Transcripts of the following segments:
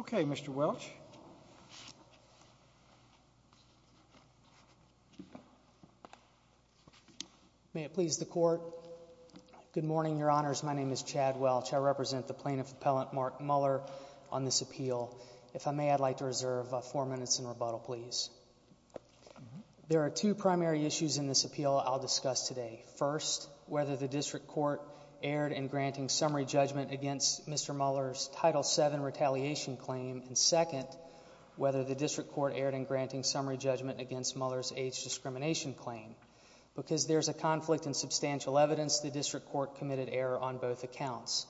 Okay, Mr. Welch. May it please the Court. Good morning, Your Honors. My name is Chad Welch. I represent the Plaintiff Appellant Mark Muller on this appeal. If I may, I'd like to reserve four minutes in rebuttal, please. There are two primary issues in this appeal I'll discuss today. First, whether the District Court erred in granting summary judgment against Mr. Muller's Title VII retaliation claim, and second, whether the District Court erred in granting summary judgment against Muller's age discrimination claim. Because there's a conflict in substantial evidence, the District Court committed error on both accounts.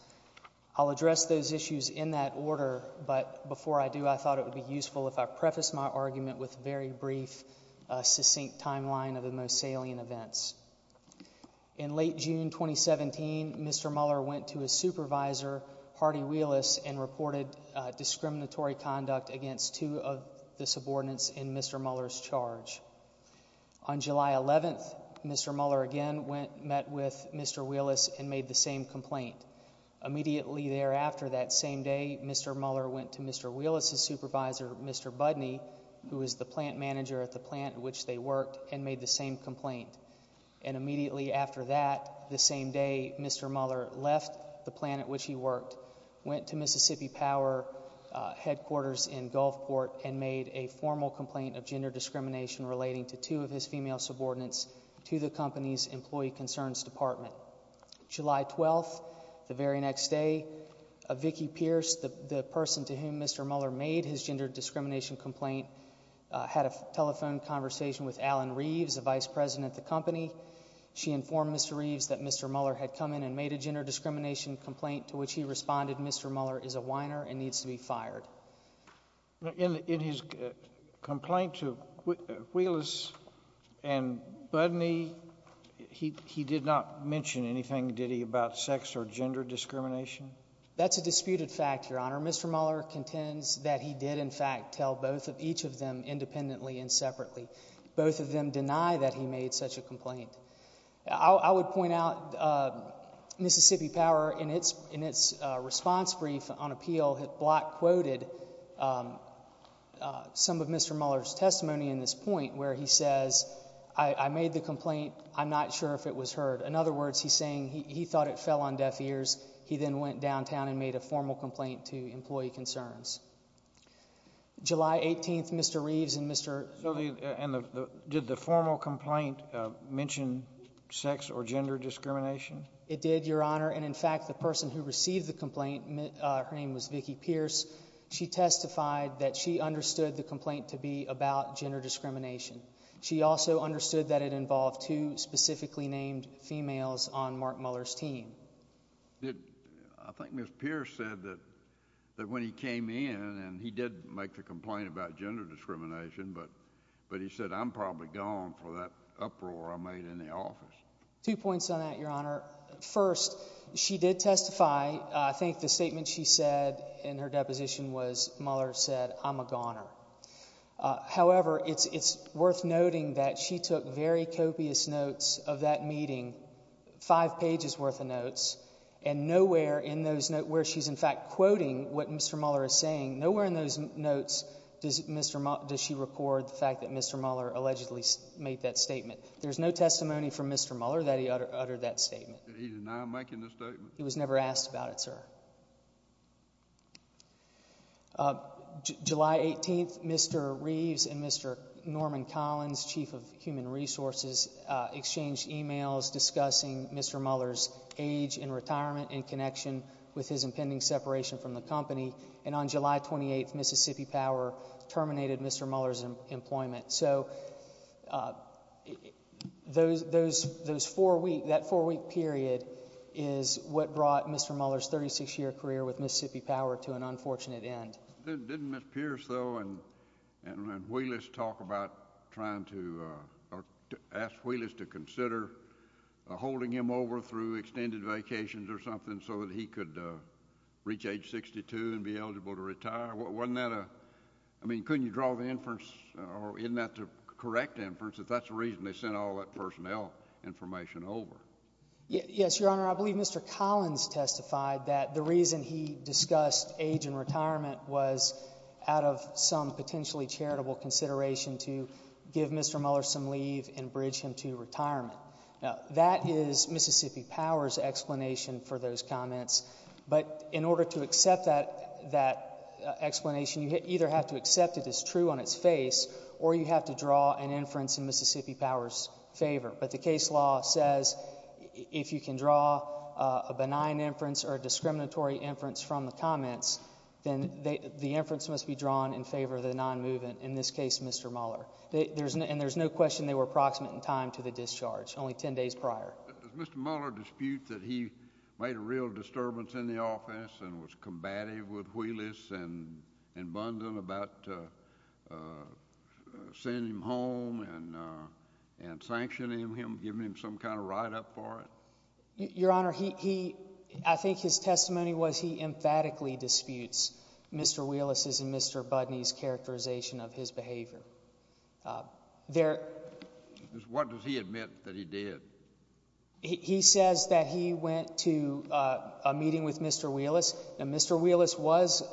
I'll address those issues in that order, but before I do, I thought it would be useful if I prefaced my argument with a very brief, succinct timeline of the most salient events. In late June 2017, Mr. Muller went to his supervisor, Hardy Wheelis, and reported discriminatory conduct against two of the subordinates in Mr. Muller's charge. On July 11th, Mr. Muller again met with Mr. Wheelis and made the same complaint. Immediately thereafter that same day, Mr. Muller went to Mr. Wheelis's supervisor, Mr. Budney, who was the plant manager at the plant at which they worked, and made the same complaint. And immediately after that, the same day, Mr. Muller left the plant at which he worked, went to Mississippi Power headquarters in Gulfport, and made a formal complaint of gender discrimination relating to two of his female subordinates to the company's employee concerns department. July 12th, the very next day, Vicki Pierce, the person to whom Mr. Muller made his gender discrimination complaint, had a telephone conversation with Alan Reeves, the vice president of the company. She informed Mr. Reeves that Mr. Muller had come in and made a gender discrimination complaint to which he responded, Mr. Muller is a whiner and needs to be fired. In his complaint to Wheelis and Budney, he did not mention anything, did he, about sex That's a disputed fact, Your Honor. Mr. Muller contends that he did in fact tell both of each of them independently and separately. Both of them deny that he made such a complaint. I would point out Mississippi Power, in its response brief on appeal, had block quoted some of Mr. Muller's testimony in this point where he says, I made the complaint, I'm not sure if it was heard. In other words, he's saying he thought it fell on deaf ears. He then went downtown and made a formal complaint to employee concerns. July 18th, Mr. Reeves and Mr. So did the formal complaint mention sex or gender discrimination? It did, Your Honor. And in fact, the person who received the complaint, her name was Vicki Pierce, she testified that she understood the complaint to be about gender discrimination. She also understood that it involved two specifically named females on Mark Muller's team. I think Miss Pierce said that when he came in and he did make the complaint about gender discrimination, but he said, I'm probably gone for that uproar I made in the office. Two points on that, Your Honor. First, she did testify. I think the statement she said in her deposition was, Muller said, I'm a goner. However, it's worth noting that she took very copious notes of that meeting, five pages worth of notes, and nowhere in those notes where she's in fact quoting what Mr. Muller is saying, nowhere in those notes does she record the fact that Mr. Muller allegedly made that statement. There's no testimony from Mr. Muller that he uttered that statement. He's now making the statement? He was never asked about it, sir. July 18th, Mr. Reeves and Mr. Norman Collins, chief of human resources, exchanged emails discussing Mr. Muller's age in retirement in connection with his impending separation from the company, and on July 28th, Mississippi Power terminated Mr. Muller's employment. So that four-week period is what brought Mr. Muller's 36-year career with Mississippi Power to an unfortunate end. Didn't Ms. Pierce, though, and Wheelis talk about trying to, ask Wheelis to consider holding him over through extended vacations or something so that he could reach age 62 and be eligible to retire? Wasn't that a, I mean, couldn't you draw the inference, or isn't that the correct inference, if that's the reason they sent all that personnel information over? Yes, Your Honor, I believe Mr. Collins testified that the reason he discussed age in retirement was out of some potentially charitable consideration to give Mr. Muller some leave and bridge him to retirement. Now, that is Mississippi Power's explanation for those comments, but in order to accept that explanation, you either have to accept it as true on its face, or you have to draw an inference in Mississippi Power's favor, but the case law says if you can draw a benign inference or a discriminatory inference from the comments, then the inference must be drawn in favor of the non-movement, in this case, Mr. Muller, and there's no question they were approximate in time to the discharge, only 10 days prior. Does Mr. Muller dispute that he made a real disturbance in the office and was combative with Wheelis and Bunden about sending him home and sanctioning him, giving him some kind of write-up for it? Your Honor, I think his testimony was he emphatically disputes Mr. Wheelis' and Mr. Bunden's characterization of his behavior. What does he admit that he did? He says that he went to a meeting with Mr. Wheelis, and Mr. Wheelis was,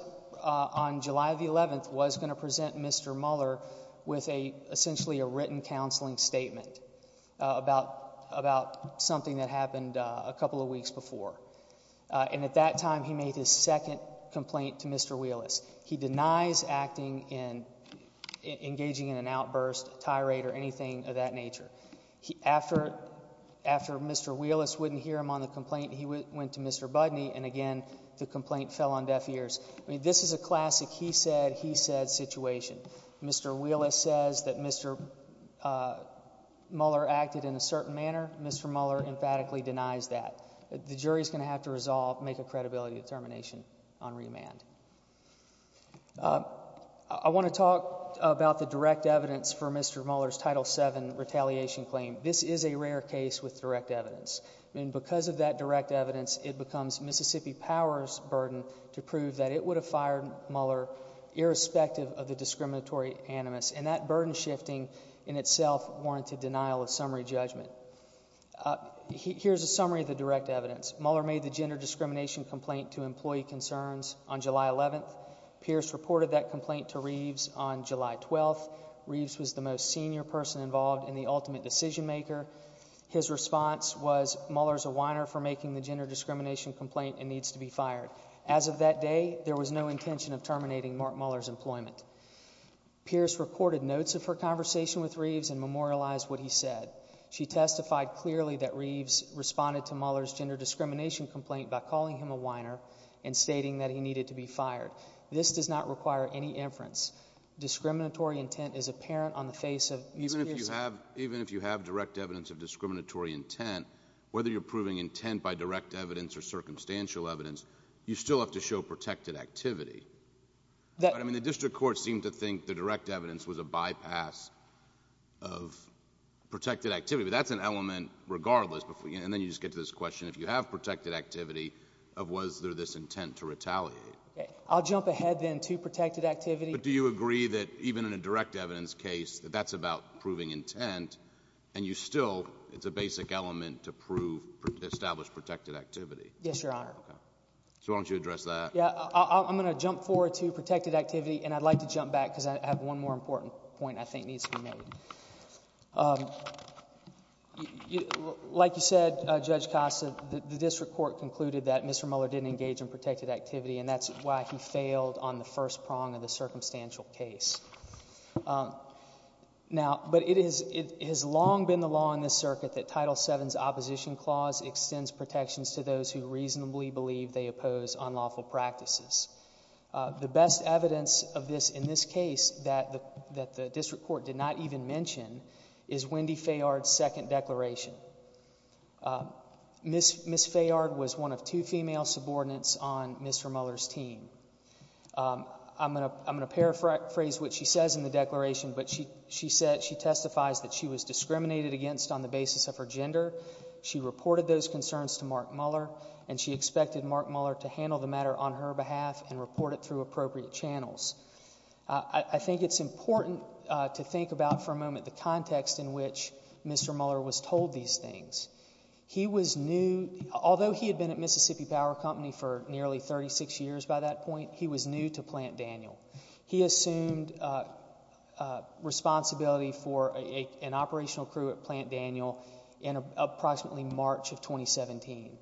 on July 11, was going to present Mr. Muller with essentially a written counseling statement about something that happened a couple of weeks before, and at that time, he made his second complaint to Mr. Wheelis. He denies acting in, engaging in an outburst, tirade, or anything of that nature. After Mr. Wheelis wouldn't hear him on the complaint, he went to Mr. Bunden, and again, the complaint fell on deaf ears. This is a classic he said, he said situation. Mr. Wheelis says that Mr. Muller acted in a certain manner. Mr. Muller emphatically denies that. The jury's going to have to resolve, make a credibility determination on remand. I want to talk about the direct evidence for Mr. Muller's Title VII retaliation claim. This is a rare case with direct evidence, and because of that direct evidence, it becomes Mississippi Power's burden to prove that it would have fired Muller irrespective of the discriminatory animus, and that burden shifting in itself warranted denial of summary judgment. Here's a summary of the direct evidence. Muller made the gender discrimination complaint to employee concerns on July 11. Pierce reported that complaint to Reeves on July 12. Reeves was the most senior person involved and the ultimate decision maker. His response was, Muller's a whiner for making the gender discrimination complaint and needs to be fired. As of that day, there was no intention of terminating Mark Muller's employment. Pierce recorded notes of her conversation with Reeves and memorialized what he said. She testified clearly that Reeves responded to Muller's gender discrimination complaint by calling him a whiner and stating that he needed to be fired. This does not require any inference. Discriminatory intent is apparent on the face of... Even if you have direct evidence of discriminatory intent, whether you're proving intent by direct evidence or circumstantial evidence, you still have to show protected activity. The district court seemed to think the direct evidence was a bypass of protected activity, but that's an element regardless. Then you just get to this question, if you have protected activity, of was there this intent to retaliate? I'll jump ahead then to protected activity. But do you agree that even in a direct evidence case, that that's about proving intent and you still, it's a basic element to prove, establish protected activity? Yes, Your Honor. So why don't you address that? I'm going to jump forward to protected activity and I'd like to jump back because I have one more important point I think needs to be made. Like you said, Judge Costa, the district court concluded that Mr. Muller didn't engage in Now, but it has long been the law in this circuit that Title VII's opposition clause extends protections to those who reasonably believe they oppose unlawful practices. The best evidence of this in this case that the district court did not even mention is Wendy Fayard's second declaration. Ms. Fayard was one of two female subordinates on Mr. Muller's team. I'm going to paraphrase what she says in the declaration, but she said, she testifies that she was discriminated against on the basis of her gender. She reported those concerns to Mark Muller and she expected Mark Muller to handle the matter on her behalf and report it through appropriate channels. I think it's important to think about for a moment the context in which Mr. Muller was told these things. He was new, although he had been at Mississippi Power Company for nearly 36 years by that point, he was new to Plant Daniel. He assumed responsibility for an operational crew at Plant Daniel in approximately March of 2017.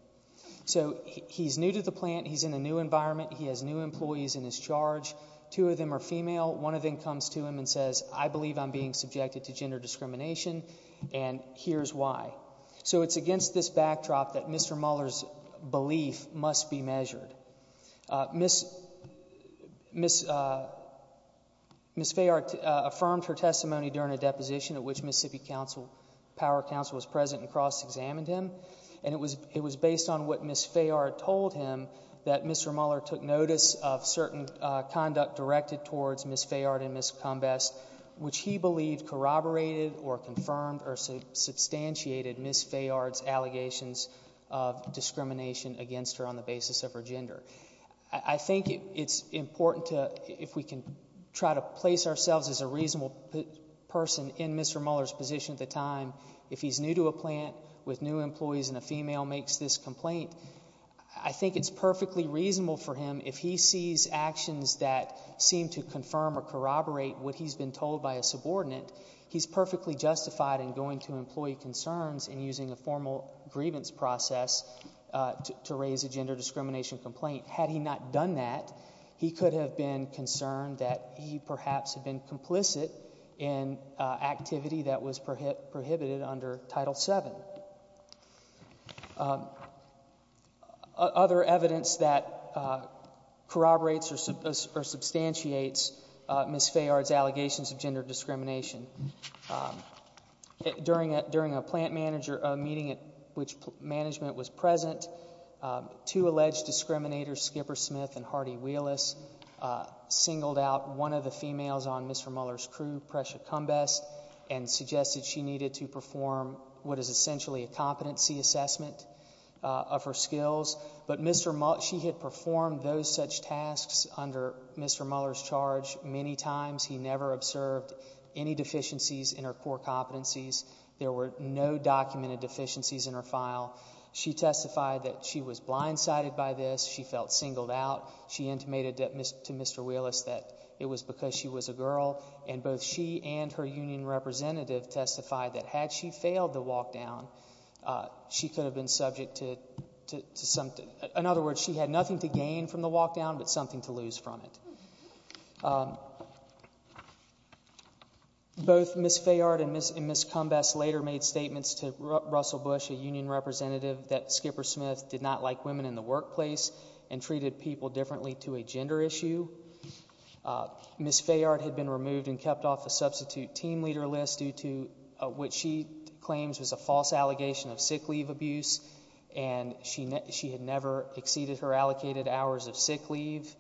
So he's new to the plant, he's in a new environment, he has new employees in his charge, two of them are female, one of them comes to him and says, I believe I'm being subjected to gender discrimination and here's why. So it's against this backdrop that Mr. Muller's belief must be measured. Ms. Fayard affirmed her testimony during a deposition at which Mississippi Council, Power Council was present and cross-examined him, and it was based on what Ms. Fayard told him that Mr. Muller took notice of certain conduct directed towards Ms. Fayard and Ms. Combest, which he believed corroborated or confirmed or substantiated Ms. Fayard's allegations of discrimination against her on the basis of her gender. I think it's important to, if we can try to place ourselves as a reasonable person in Mr. Muller's position at the time, if he's new to a plant with new employees and a female makes this complaint, I think it's perfectly reasonable for him, if he sees actions that seem to confirm or corroborate what he's been told by a subordinate, he's perfectly justified in going to employee concerns and using a formal grievance process to raise a gender discrimination complaint. Had he not done that, he could have been concerned that he perhaps had been complicit in activity that was prohibited under Title VII. Other evidence that corroborates or substantiates Ms. Fayard's allegations of gender discrimination. During a plant manager meeting at which management was present, two alleged discriminators, Skipper Smith and Hardy Wheelis, singled out one of the females on Mr. Muller's crew, Presha Combest, and suggested she needed to perform what is essentially a competency assessment of her skills. But she had performed those such tasks under Mr. Muller's charge many times. He never observed any deficiencies in her core competencies. There were no documented deficiencies in her file. She testified that she was blindsided by this. She felt singled out. She intimated to Mr. Wheelis that it was because she was a girl. And both she and her union representative testified that had she failed the walk-down, she could have been subject to something. In other words, she had nothing to gain from the walk-down but something to lose from it. Both Ms. Fayard and Ms. Combest later made statements to Russell Bush, a union representative, that Skipper Smith did not like women in the workplace and treated people differently to a gender issue. Ms. Fayard had been removed and kept off the substitute team leader list due to what she claims was a false allegation of sick leave abuse. And she had never exceeded her allocated hours of sick leave.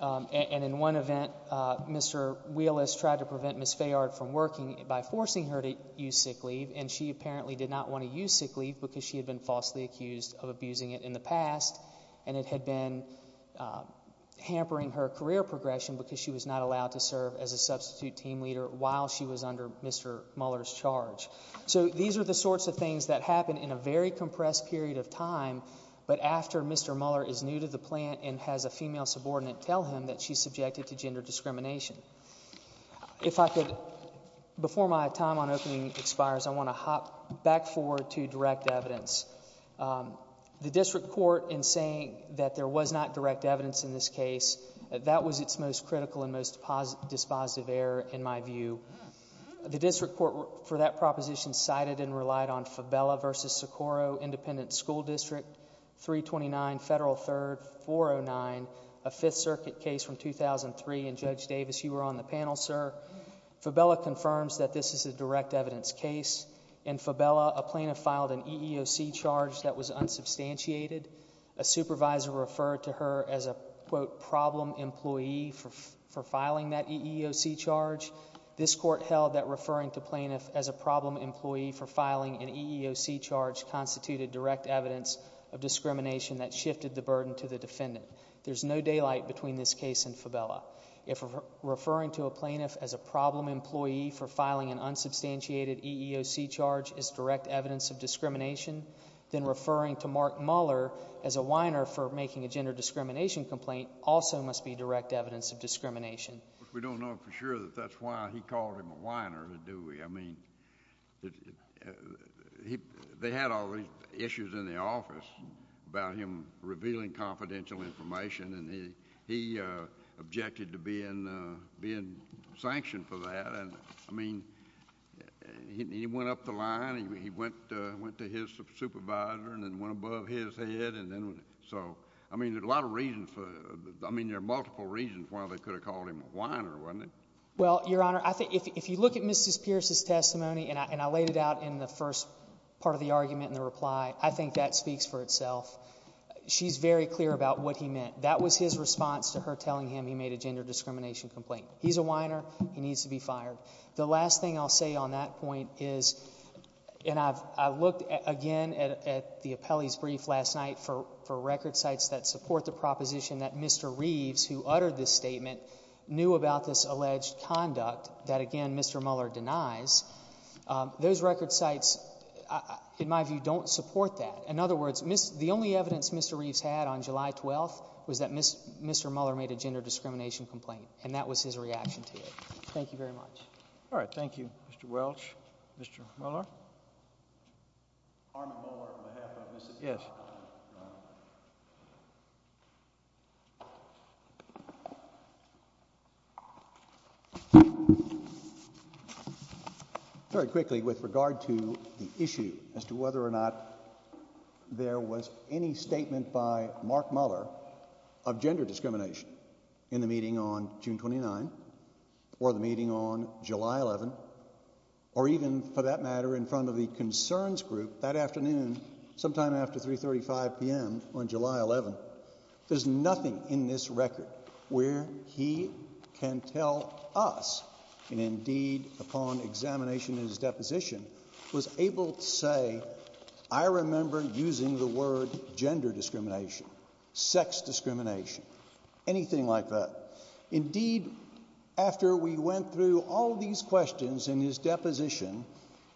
And in one event, Mr. Wheelis tried to prevent Ms. Fayard from working by forcing her to use sick leave. And she apparently did not want to use sick leave because she had been falsely accused of abusing it in the past. And it had been hampering her career progression because she was not allowed to serve as a substitute team leader while she was under Mr. Mueller's charge. So these are the sorts of things that happen in a very compressed period of time, but after Mr. Mueller is new to the plant and has a female subordinate tell him that she's subjected to gender discrimination. If I could, before my time on opening expires, I want to hop back forward to direct evidence. The district court in saying that there was not direct evidence in this case, that was its most critical and most dispositive error in my view. The district court for that proposition cited and relied on Fabella v. Socorro Independent School District 329 Federal 3rd 409, a Fifth Circuit case from 2003, and Judge Davis, you were on the panel, sir. Fabella confirms that this is a direct evidence case. In Fabella, a plaintiff filed an EEOC charge that was unsubstantiated. A supervisor referred to her as a, quote, problem employee for filing that EEOC charge. This court held that referring to plaintiff as a problem employee for filing an EEOC charge constituted direct evidence of discrimination that shifted the burden to the defendant. If referring to a plaintiff as a problem employee for filing an unsubstantiated EEOC charge is direct evidence of discrimination, then referring to Mark Muller as a whiner for making a gender discrimination complaint also must be direct evidence of discrimination. We don't know for sure that that's why he called him a whiner, do we? I mean, they had all these issues in the office about him revealing confidential information and he objected to being sanctioned for that. And I mean, he went up the line, he went to his supervisor and then went above his head and then, so, I mean, there's a lot of reasons for, I mean, there are multiple reasons why they could have called him a whiner, wasn't it? Well, Your Honor, I think if you look at Mrs. Pierce's testimony, and I laid it out in the first part of the argument in the reply, I think that speaks for itself. She's very clear about what he meant. That was his response to her telling him he made a gender discrimination complaint. He's a whiner. He needs to be fired. The last thing I'll say on that point is, and I've looked again at the appellee's brief last night for record sites that support the proposition that Mr. Reeves, who uttered this statement, knew about this alleged conduct that, again, Mr. Muller denies. Those record sites, in my view, don't support that. In other words, the only evidence Mr. Reeves had on July 12th was that Mr. Muller made a gender discrimination complaint, and that was his reaction to it. Thank you very much. All right. Thank you, Mr. Welch. Mr. Muller? Yes. Very quickly, with regard to the issue as to whether or not there was any statement by Mark Muller of gender discrimination in the meeting on June 29, or the meeting on July 11, or even, for that matter, in front of the concerns group that afternoon, sometime after 3.35 p.m. on July 11, there's nothing in this record where he can tell us, and indeed, upon examination in his deposition, was able to say, I remember using the word gender discrimination, sex discrimination, anything like that. Indeed, after we went through all these questions in his deposition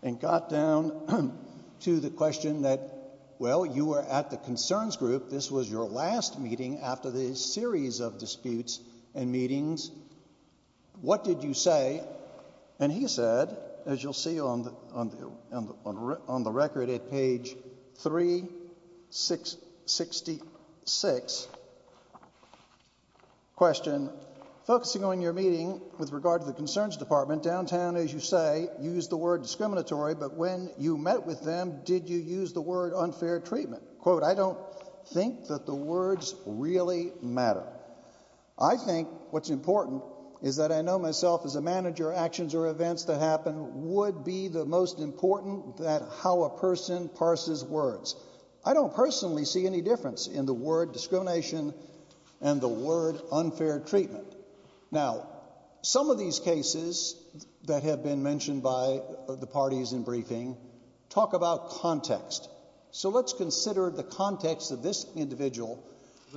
and got down to the question that, well, you were at the concerns group, this was your last meeting after this series of disputes and meetings, what did you say? And he said, as you'll see on the record at page 366, question, focusing on your meeting with regard to the concerns department, downtown, as you say, used the word discriminatory, but when you met with them, did you use the word unfair treatment? Quote, I don't think that the words really matter. I think what's important is that I know myself as a manager, actions or events that happen would be the most important that how a person parses words. I don't personally see any difference in the word discrimination and the word unfair treatment. Now, some of these cases that have been mentioned by the parties in briefing talk about context. So let's consider the context of this individual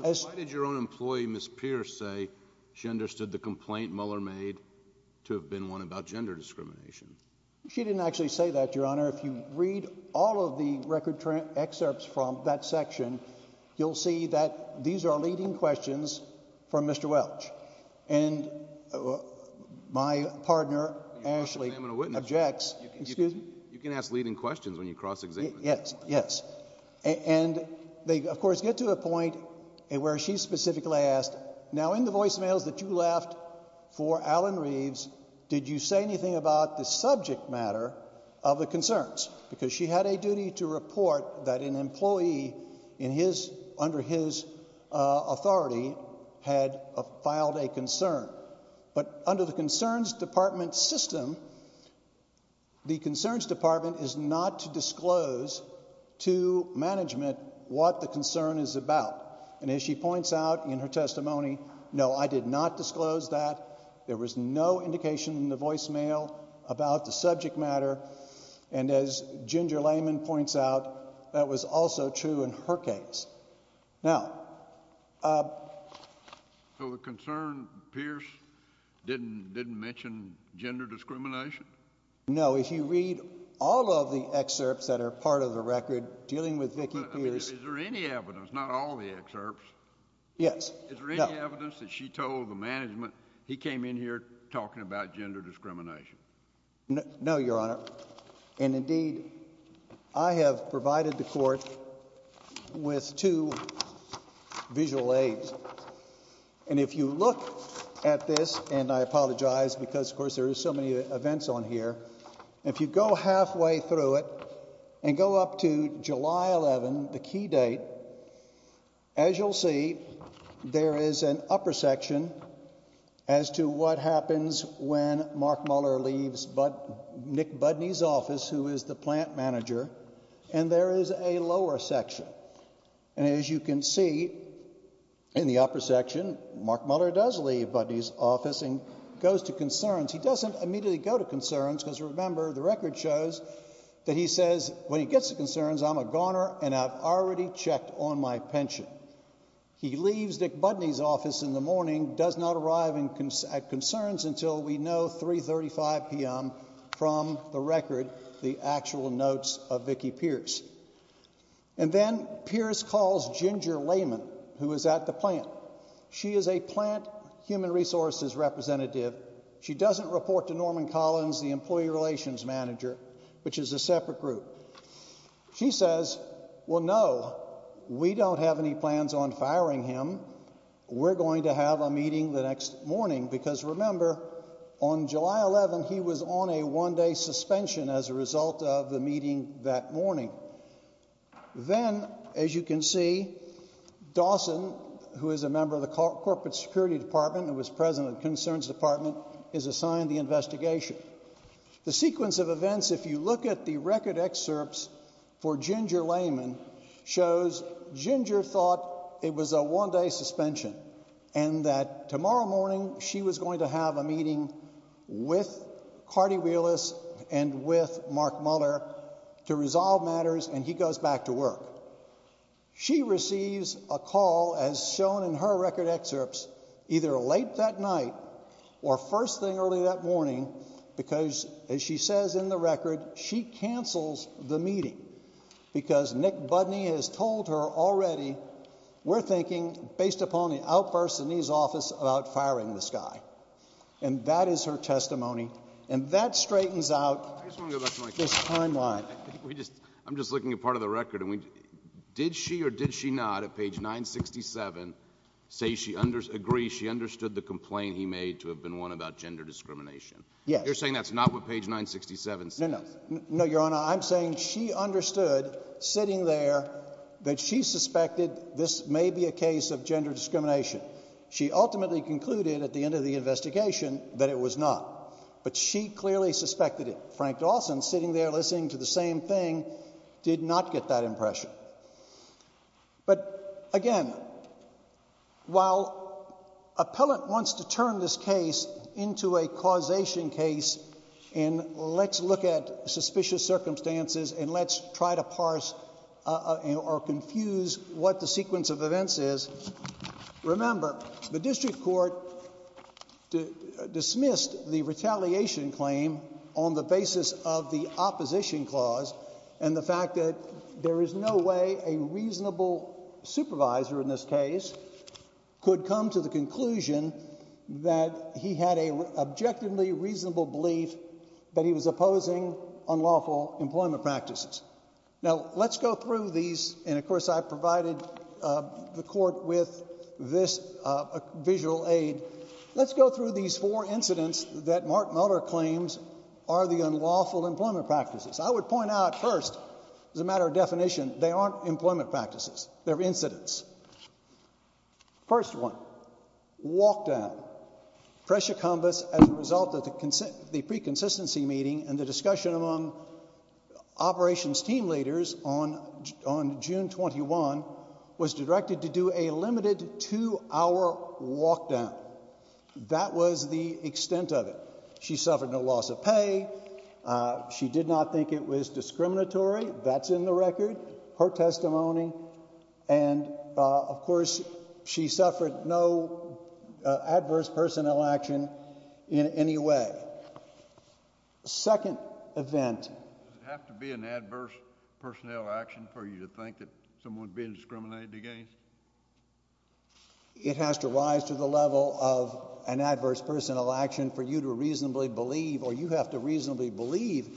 as... Why did your own employee, Ms. Pierce, say she understood the complaint Mueller made to have been one about gender discrimination? She didn't actually say that, Your Honor. If you read all of the record excerpts from that section, you'll see that these are leading questions from Mr. Welch. My partner, Ashley, objects... You can ask leading questions when you cross-examine. Yes. And they, of course, get to a point where she specifically asked, now in the voicemails that you left for Alan Reeves, did you say anything about the subject matter of the concerns? Because she had a duty to report that an employee under his authority had filed a concern. But under the concerns department system, the concerns department is not to disclose to management what the concern is about. And as she points out in her testimony, no, I did not disclose that. There was no indication in the voicemail about the subject matter. And as Ginger Lehman points out, that was also true in her case. Now... So the concern, Pierce, didn't mention gender discrimination? No. If you read all of the excerpts that are part of the record dealing with Vicki Pierce... I mean, is there any evidence, not all the excerpts... Yes. Is there any evidence that she told the management, he came in here talking about gender discrimination? No, your honor. And indeed, I have provided the court with two visual aids. And if you look at this, and I apologize because of course there is so many events on here, if you go halfway through it and go up to July 11, the key date, as you'll see, there is an upper section as to what happens when Mark Muller leaves Nick Budney's office, who is the plant manager, and there is a lower section. And as you can see, in the upper section, Mark Muller does leave Budney's office and goes to concerns. He doesn't immediately go to concerns, because remember, the record shows that he says when he gets to concerns, I'm a goner and I've already checked on my pension. He leaves Nick Budney's office in the morning, does not arrive at concerns until we know 3.35 p.m. from the record, the actual notes of Vicki Pierce. And then Pierce calls Ginger Lehman, who is at the plant. She is a plant human resources representative. She doesn't report to Norman Collins, the employee relations manager, which is a separate group. She says, well, no, we don't have any plans on firing him. We're going to have a meeting the next morning, because remember, on July 11, he was on a one-day suspension as a result of the meeting that morning. Then, as you can see, Dawson, who is a member of the corporate security department and was president of the concerns department, is assigned the investigation. The sequence of events, if you look at the record excerpts for Ginger Lehman, shows Ginger thought it was a one-day suspension and that tomorrow morning she was going to have a meeting with Cardi Wheelis and with Mark Muller to resolve matters, and he goes back to work. She receives a call, as shown in her record excerpts, either late that night or first thing early that morning, because, as she says in the record, she cancels the meeting because Nick Budney has told her already, we're thinking, based upon the outbursts in his office, about firing this guy. And that is her testimony, and that straightens out this timeline. I'm just looking at part of the record. Did she or did she not, at page 967, say she agrees she understood the complaint he made to have been one about gender discrimination? Yes. You're saying that's not what page 967 says? No, no. No, Your Honor, I'm saying she understood, sitting there, that she suspected this may be a case of gender discrimination. She ultimately concluded at the end of the investigation that it was not, but she clearly suspected it. But, again, while appellant wants to turn this case into a causation case, and let's look at suspicious circumstances, and let's try to parse or confuse what the sequence of events is, remember, the district court dismissed the retaliation claim on the basis of the opposition clause, and the fact that there is no way a reasonable supervisor in this case could come to the conclusion that he had an objectively reasonable belief that he was opposing unlawful employment practices. Now, let's go through these, and of course I provided the court with this visual aid. Let's go through these four incidents that Mark Mueller claims are the unlawful employment practices. I would point out, first, as a matter of definition, they aren't employment practices. They're incidents. First one, walk-down. Presha Kambas, as a result of the pre-consistency meeting and the discussion among operations team leaders on June 21, was directed to do a limited two-hour walk-down. That was the extent of it. She suffered no loss of pay. She did not think it was discriminatory. That's in the record, her testimony, and, of course, she suffered no adverse personnel action in any way. Now, the second event— Does it have to be an adverse personnel action for you to think that someone's being discriminated against? It has to rise to the level of an adverse personnel action for you to reasonably believe, or you have to reasonably believe,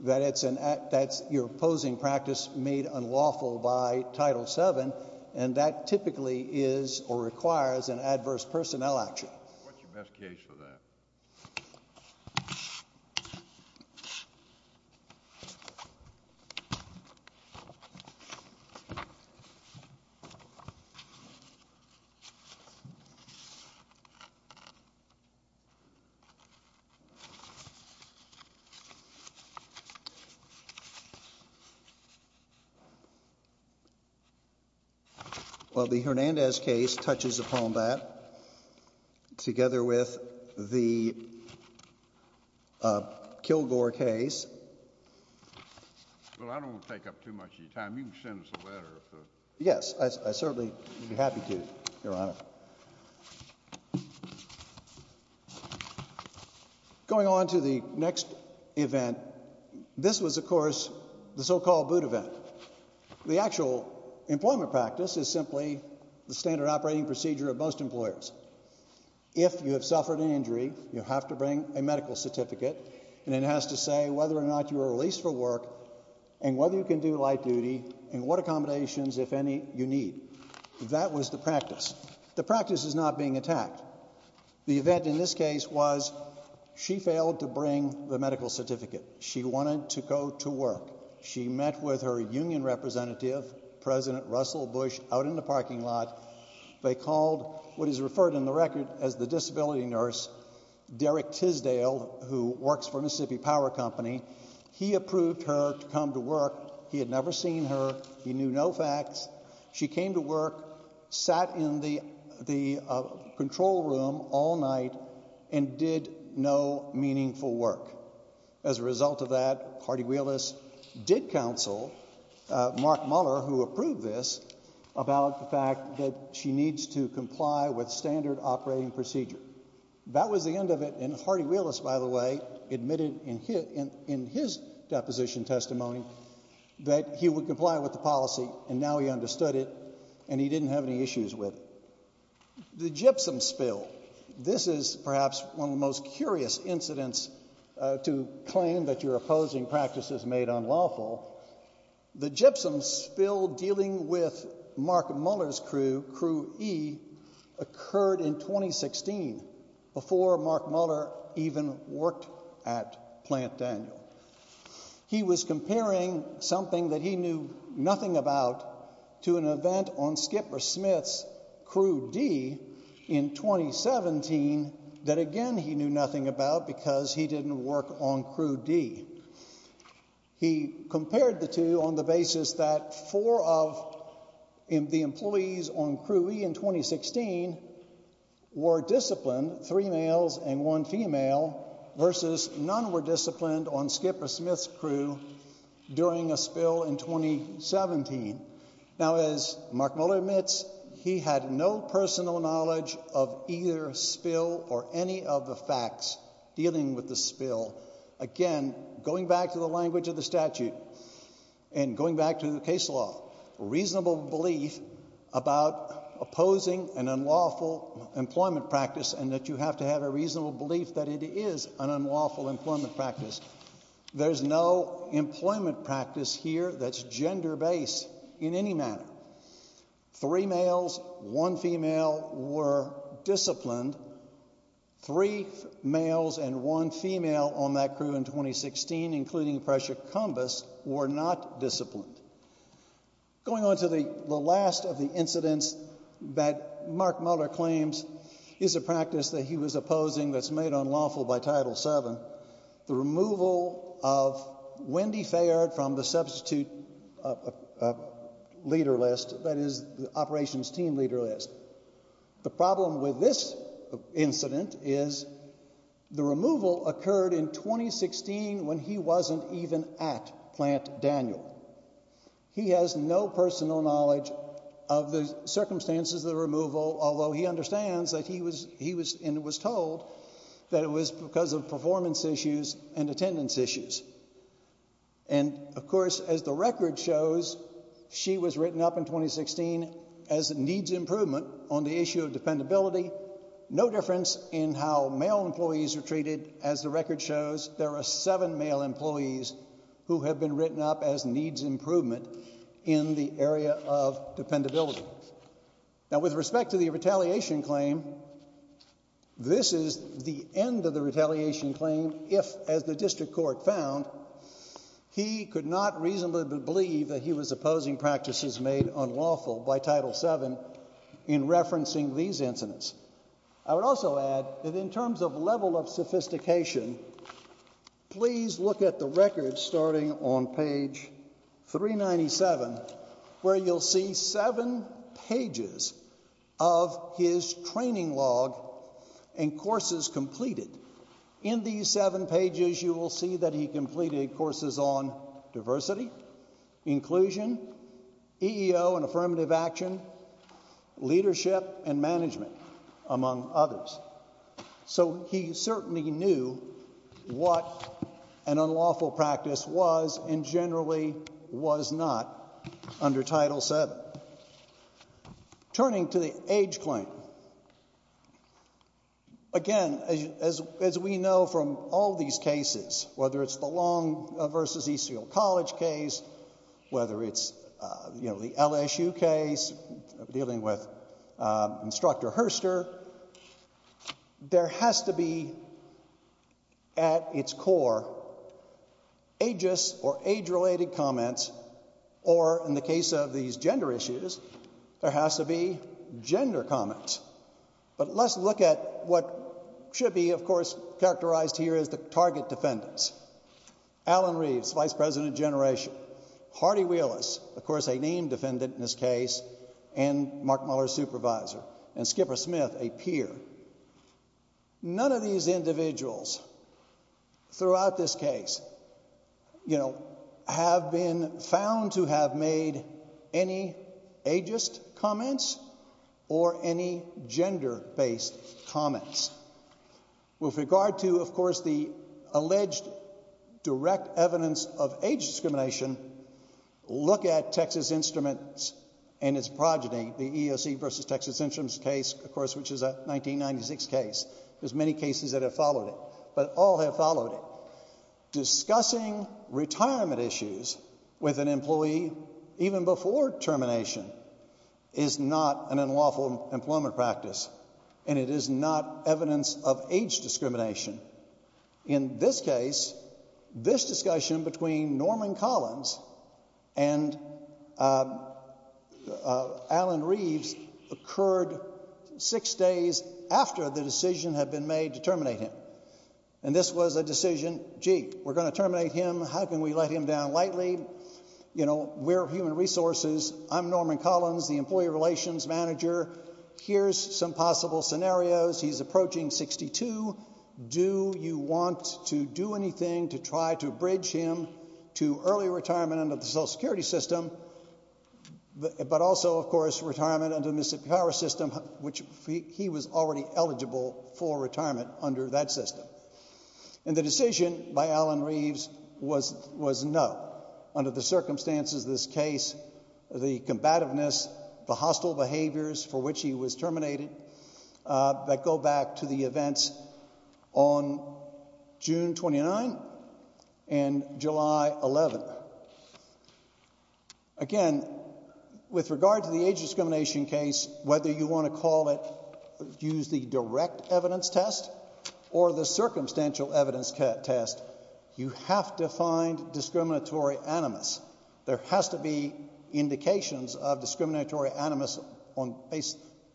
that it's an—that's your opposing practice made unlawful by Title VII, and that typically is or requires an adverse personnel action. What's your best case for that? Well, the Hernandez case touches upon that. Together with the Kilgore case— Well, I don't want to take up too much of your time. You can send us a letter. Yes, I certainly would be happy to, Your Honor. Going on to the next event, this was, of course, the so-called boot event. The actual employment practice is simply the standard operating procedure of most employers. If you have suffered an injury, you have to bring a medical certificate, and it has to say whether or not you were released for work and whether you can do light duty and what accommodations, if any, you need. That was the practice. The practice is not being attacked. The event in this case was she failed to bring the medical certificate. She wanted to go to work. She met with her union representative, President Russell Bush, out in the parking lot. They called what is referred in the record as the disability nurse, Derek Tisdale, who works for Mississippi Power Company. He approved her to come to work. He had never seen her. He knew no facts. She came to work, sat in the control room all night, and did no meaningful work. As a result of that, Hardy-Wheelis did counsel Mark Muller, who approved this, about the fact that she needs to comply with standard operating procedure. That was the end of it, and Hardy-Wheelis, by the way, admitted in his deposition testimony that he would comply with the policy, and now he understood it, and he didn't have any issues with it. The gypsum spill. This is perhaps one of the most curious incidents to claim that you're opposing practices made unlawful. The gypsum spill dealing with Mark Muller's crew, Crew E, occurred in 2016, before Mark Muller even worked at Plant Daniel. He was comparing something that he knew nothing about to an event on Skipper Smith's Crew D in 2017 that, again, he knew nothing about because he didn't work on Crew D. He compared the two on the basis that four of the employees on Crew E in 2016 were disciplined, three males and one female, versus none were disciplined on Skipper Smith's crew during a spill in 2017. Now, as Mark Muller admits, he had no personal knowledge of either spill or any of the facts dealing with the spill. Again, going back to the language of the statute and going back to the case law, reasonable belief about opposing an unlawful employment practice and that you have to have a reasonable belief that it is an unlawful employment practice. There's no employment practice here that's gender-based in any manner. Three males, one female were disciplined. Three males and one female on that crew in 2016, including Precia Cumbas, were not disciplined. Going on to the last of the incidents that Mark Muller claims is a practice that he was The removal of Wendy Fayard from the substitute leader list, that is, the operations team leader list. The problem with this incident is the removal occurred in 2016 when he wasn't even at Plant Daniel. He has no personal knowledge of the circumstances of the removal, although he understands that he was told that it was because of performance issues and attendance issues. And of course, as the record shows, she was written up in 2016 as needs improvement on the issue of dependability. No difference in how male employees are treated. As the record shows, there are seven male employees who have been written up as needs improvement in the area of dependability. Now, with respect to the retaliation claim, this is the end of the retaliation claim if, as the district court found, he could not reasonably believe that he was opposing practices made unlawful by Title VII in referencing these incidents. I would also add that in terms of level of sophistication, please look at the record starting on page 397, where you'll see seven pages of his training log and courses completed. In these seven pages, you will see that he completed courses on diversity, inclusion, EEO and affirmative action, leadership and management, among others. So he certainly knew what an unlawful practice was and generally was not under Title VII. Turning to the age claim, again, as we know from all these cases, whether it's the Long vs. Eastfield College case, whether it's the LSU case dealing with Instructor Herster, there has to be at its core ageist or age-related comments or, in the case of these gender issues, there has to be gender comments. But let's look at what should be, of course, characterized here as the target defendants. Alan Reeves, Vice President of Generation, Hardy Wheelis, of course, a named defendant in this case, and Mark Mueller's supervisor, and Skipper Smith, a peer. None of these individuals throughout this case, you know, have been found to have made any ageist comments or any gender-based comments. With regard to, of course, the alleged direct evidence of age discrimination, look at Texas Instruments and its progeny, the EEOC vs. Texas Instruments case, of course, which is a 1996 case. There's many cases that have followed it, but all have followed it. Discussing retirement issues with an employee even before termination is not an unlawful employment practice, and it is not evidence of age discrimination. In this case, this discussion between Norman Collins and Alan Reeves occurred six days after the decision had been made to terminate him. And this was a decision, gee, we're going to terminate him, how can we let him down lightly? You know, we're human resources, I'm Norman Collins, the employee relations manager, here's some possible scenarios, he's approaching 62, do you want to do anything to try to bridge him to early retirement under the Social Security system, but also, of course, retirement under the Mississippi Power System, which he was already eligible for retirement under that system. And the decision by Alan Reeves was no, under the circumstances of this case, the combativeness, the hostile behaviors for which he was terminated, that go back to the events on June 29 and July 11. Again, with regard to the age discrimination case, whether you want to call it, use the circumstantial evidence test, you have to find discriminatory animus. There has to be indications of discriminatory animus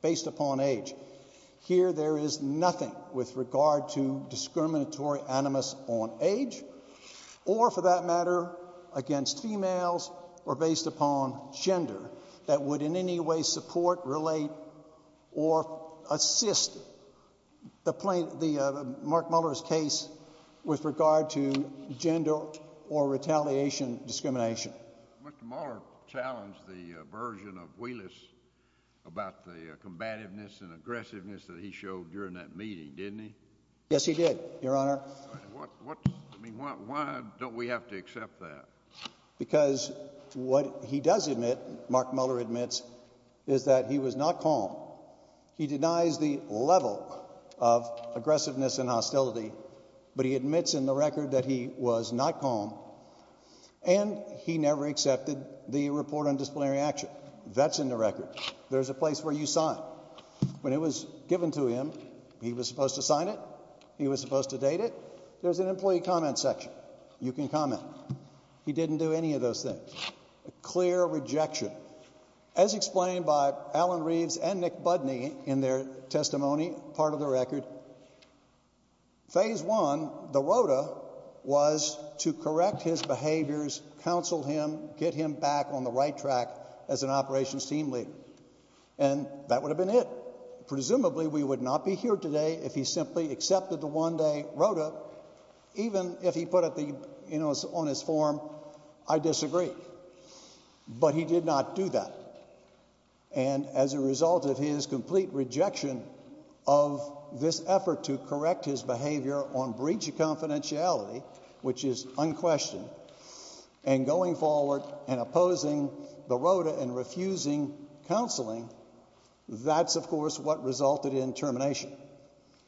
based upon age. Here there is nothing with regard to discriminatory animus on age, or for that matter, against females or based upon gender that would in any way support, relate, or assist the Mark Mueller's case with regard to gender or retaliation discrimination. Mr. Mueller challenged the version of Willis about the combativeness and aggressiveness that he showed during that meeting, didn't he? Yes, he did, Your Honor. Why don't we have to accept that? Because what he does admit, Mark Mueller admits, is that he was not calm. He denies the level of aggressiveness and hostility, but he admits in the record that he was not calm, and he never accepted the report on disciplinary action. That's in the record. There's a place where you sign. When it was given to him, he was supposed to sign it, he was supposed to date it. There's an employee comment section. You can comment. He didn't do any of those things. A clear rejection. As explained by Alan Reeves and Nick Budney in their testimony, part of the record, phase one, the ROTA, was to correct his behaviors, counsel him, get him back on the right track as an operations team leader. And that would have been it. Presumably, we would not be here today if he simply accepted the one-day ROTA, even if he put it on his form, I disagree. But he did not do that. And as a result of his complete rejection of this effort to correct his behavior on breach of confidentiality, which is unquestioned, and going forward and opposing the ROTA and counseling, that's, of course, what resulted in termination.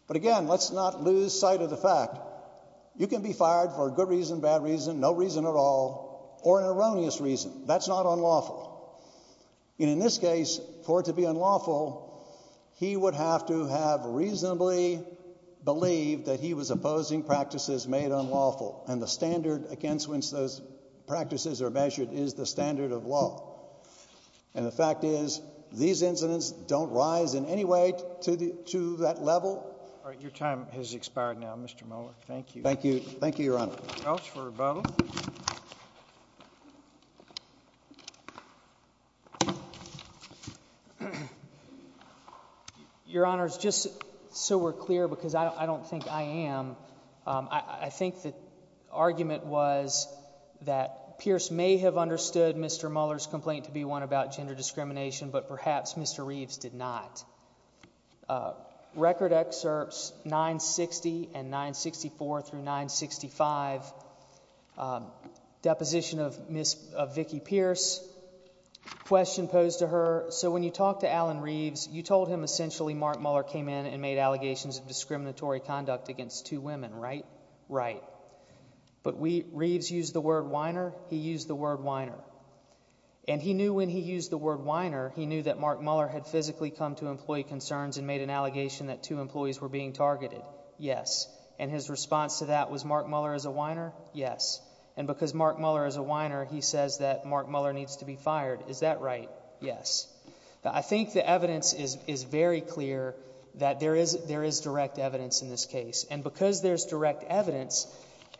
But again, let's not lose sight of the fact. You can be fired for a good reason, bad reason, no reason at all, or an erroneous reason. That's not unlawful. And in this case, for it to be unlawful, he would have to have reasonably believed that he was opposing practices made unlawful. And the standard against which those practices are measured is the standard of law. And the fact is, these incidents don't rise in any way to that level. All right. Your time has expired now, Mr. Mueller. Thank you. Thank you. Thank you, Your Honor. Anything else for rebuttal? Your Honors, just so we're clear, because I don't think I am, I think the argument was that Pierce may have understood Mr. Mueller's complaint to be one about gender discrimination, but perhaps Mr. Reeves did not. Record excerpts 960 and 964 through 965, deposition of Vicki Pierce, question posed to her. So when you talk to Alan Reeves, you told him essentially Mark Mueller came in and made allegations of discriminatory conduct against two women, right? Right. But Reeves used the word whiner, he used the word whiner. And he knew when he used the word whiner, he knew that Mark Mueller had physically come to employee concerns and made an allegation that two employees were being targeted. Yes. And his response to that was Mark Mueller is a whiner? Yes. And because Mark Mueller is a whiner, he says that Mark Mueller needs to be fired. Is that right? Yes. Now, I think the evidence is very clear that there is direct evidence in this case. And because there's direct evidence,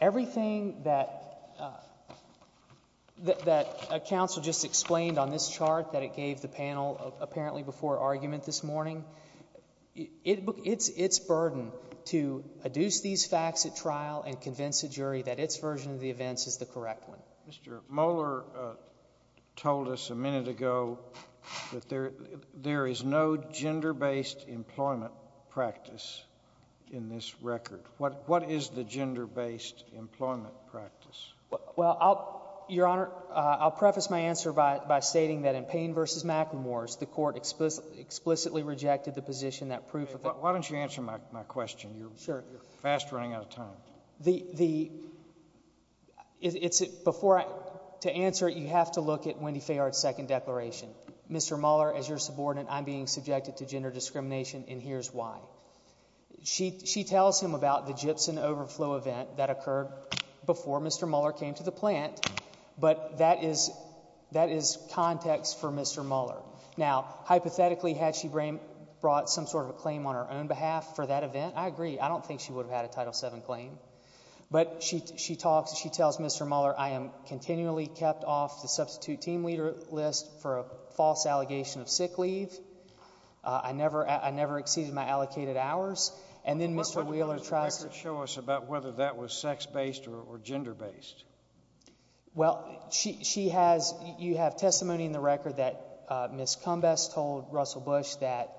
everything that counsel just explained on this chart that it gave the panel apparently before argument this morning, it's burden to adduce these facts at trial and convince a jury that its version of the events is the correct one. Mr. Mueller told us a minute ago that there is no gender-based employment practice in this record. What is the gender-based employment practice? Well, Your Honor, I'll preface my answer by stating that in Payne v. McLemore's, the court explicitly rejected the position that proof of it. Why don't you answer my question? You're fast running out of time. To answer it, you have to look at Wendy Fayard's second declaration. Mr. Mueller, as your subordinate, I'm being subjected to gender discrimination and here's why. She tells him about the gypsum overflow event that occurred before Mr. Mueller came to the plant, but that is context for Mr. Mueller. Now, hypothetically, had she brought some sort of a claim on her own behalf for that event, I agree. I don't think she would have had a Title VII claim. But she talks, she tells Mr. Mueller, I am continually kept off the substitute team leader list for a false allegation of sick leave. I never, I never exceeded my allocated hours. And then Mr. Mueller tries to show us about whether that was sex-based or gender-based. Well, she, she has, you have testimony in the record that Ms. Cumbess told Russell Bush that,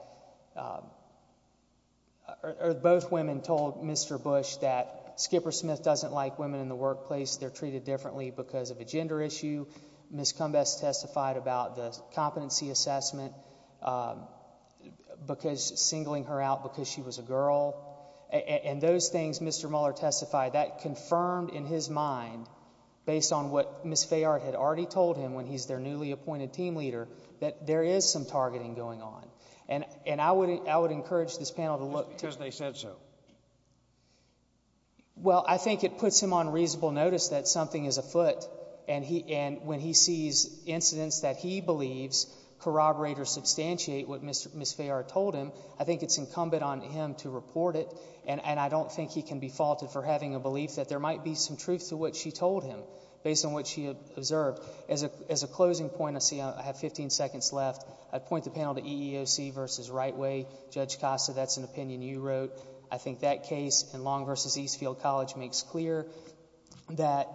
or both women told Mr. Bush that Skipper Smith doesn't like women in the workplace. They're treated differently because of a gender issue. Ms. Cumbess testified about the competency assessment, because, singling her out because she was a girl. And those things, Mr. Mueller testified, that confirmed in his mind, based on what Ms. Fayard had already told him when he's their newly appointed team leader, that there is some targeting going on. And I would, I would encourage this panel to look to— Just because they said so. Well, I think it puts him on reasonable notice that something is afoot. And he, and when he sees incidents that he believes corroborate or substantiate what Ms. Fayard told him, I think it's incumbent on him to report it. And I don't think he can be faulted for having a belief that there might be some truth to what she told him, based on what she observed. As a, as a closing point, I see I have 15 seconds left. I'd point the panel to EEOC versus RightWay. Judge Costa, that's an opinion you wrote. I think that case in Long v. Eastfield College makes clear that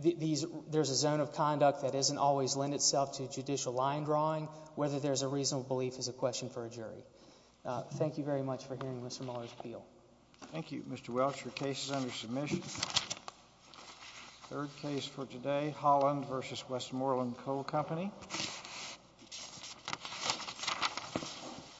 these, there's a zone of conduct that doesn't always lend itself to judicial line drawing. Whether there's a reasonable belief is a question for a jury. Thank you very much for hearing Mr. Mueller's appeal. Thank you, Mr. Welch. Your case is under submission. Third case for today, Holland v. Westmoreland Coal Company.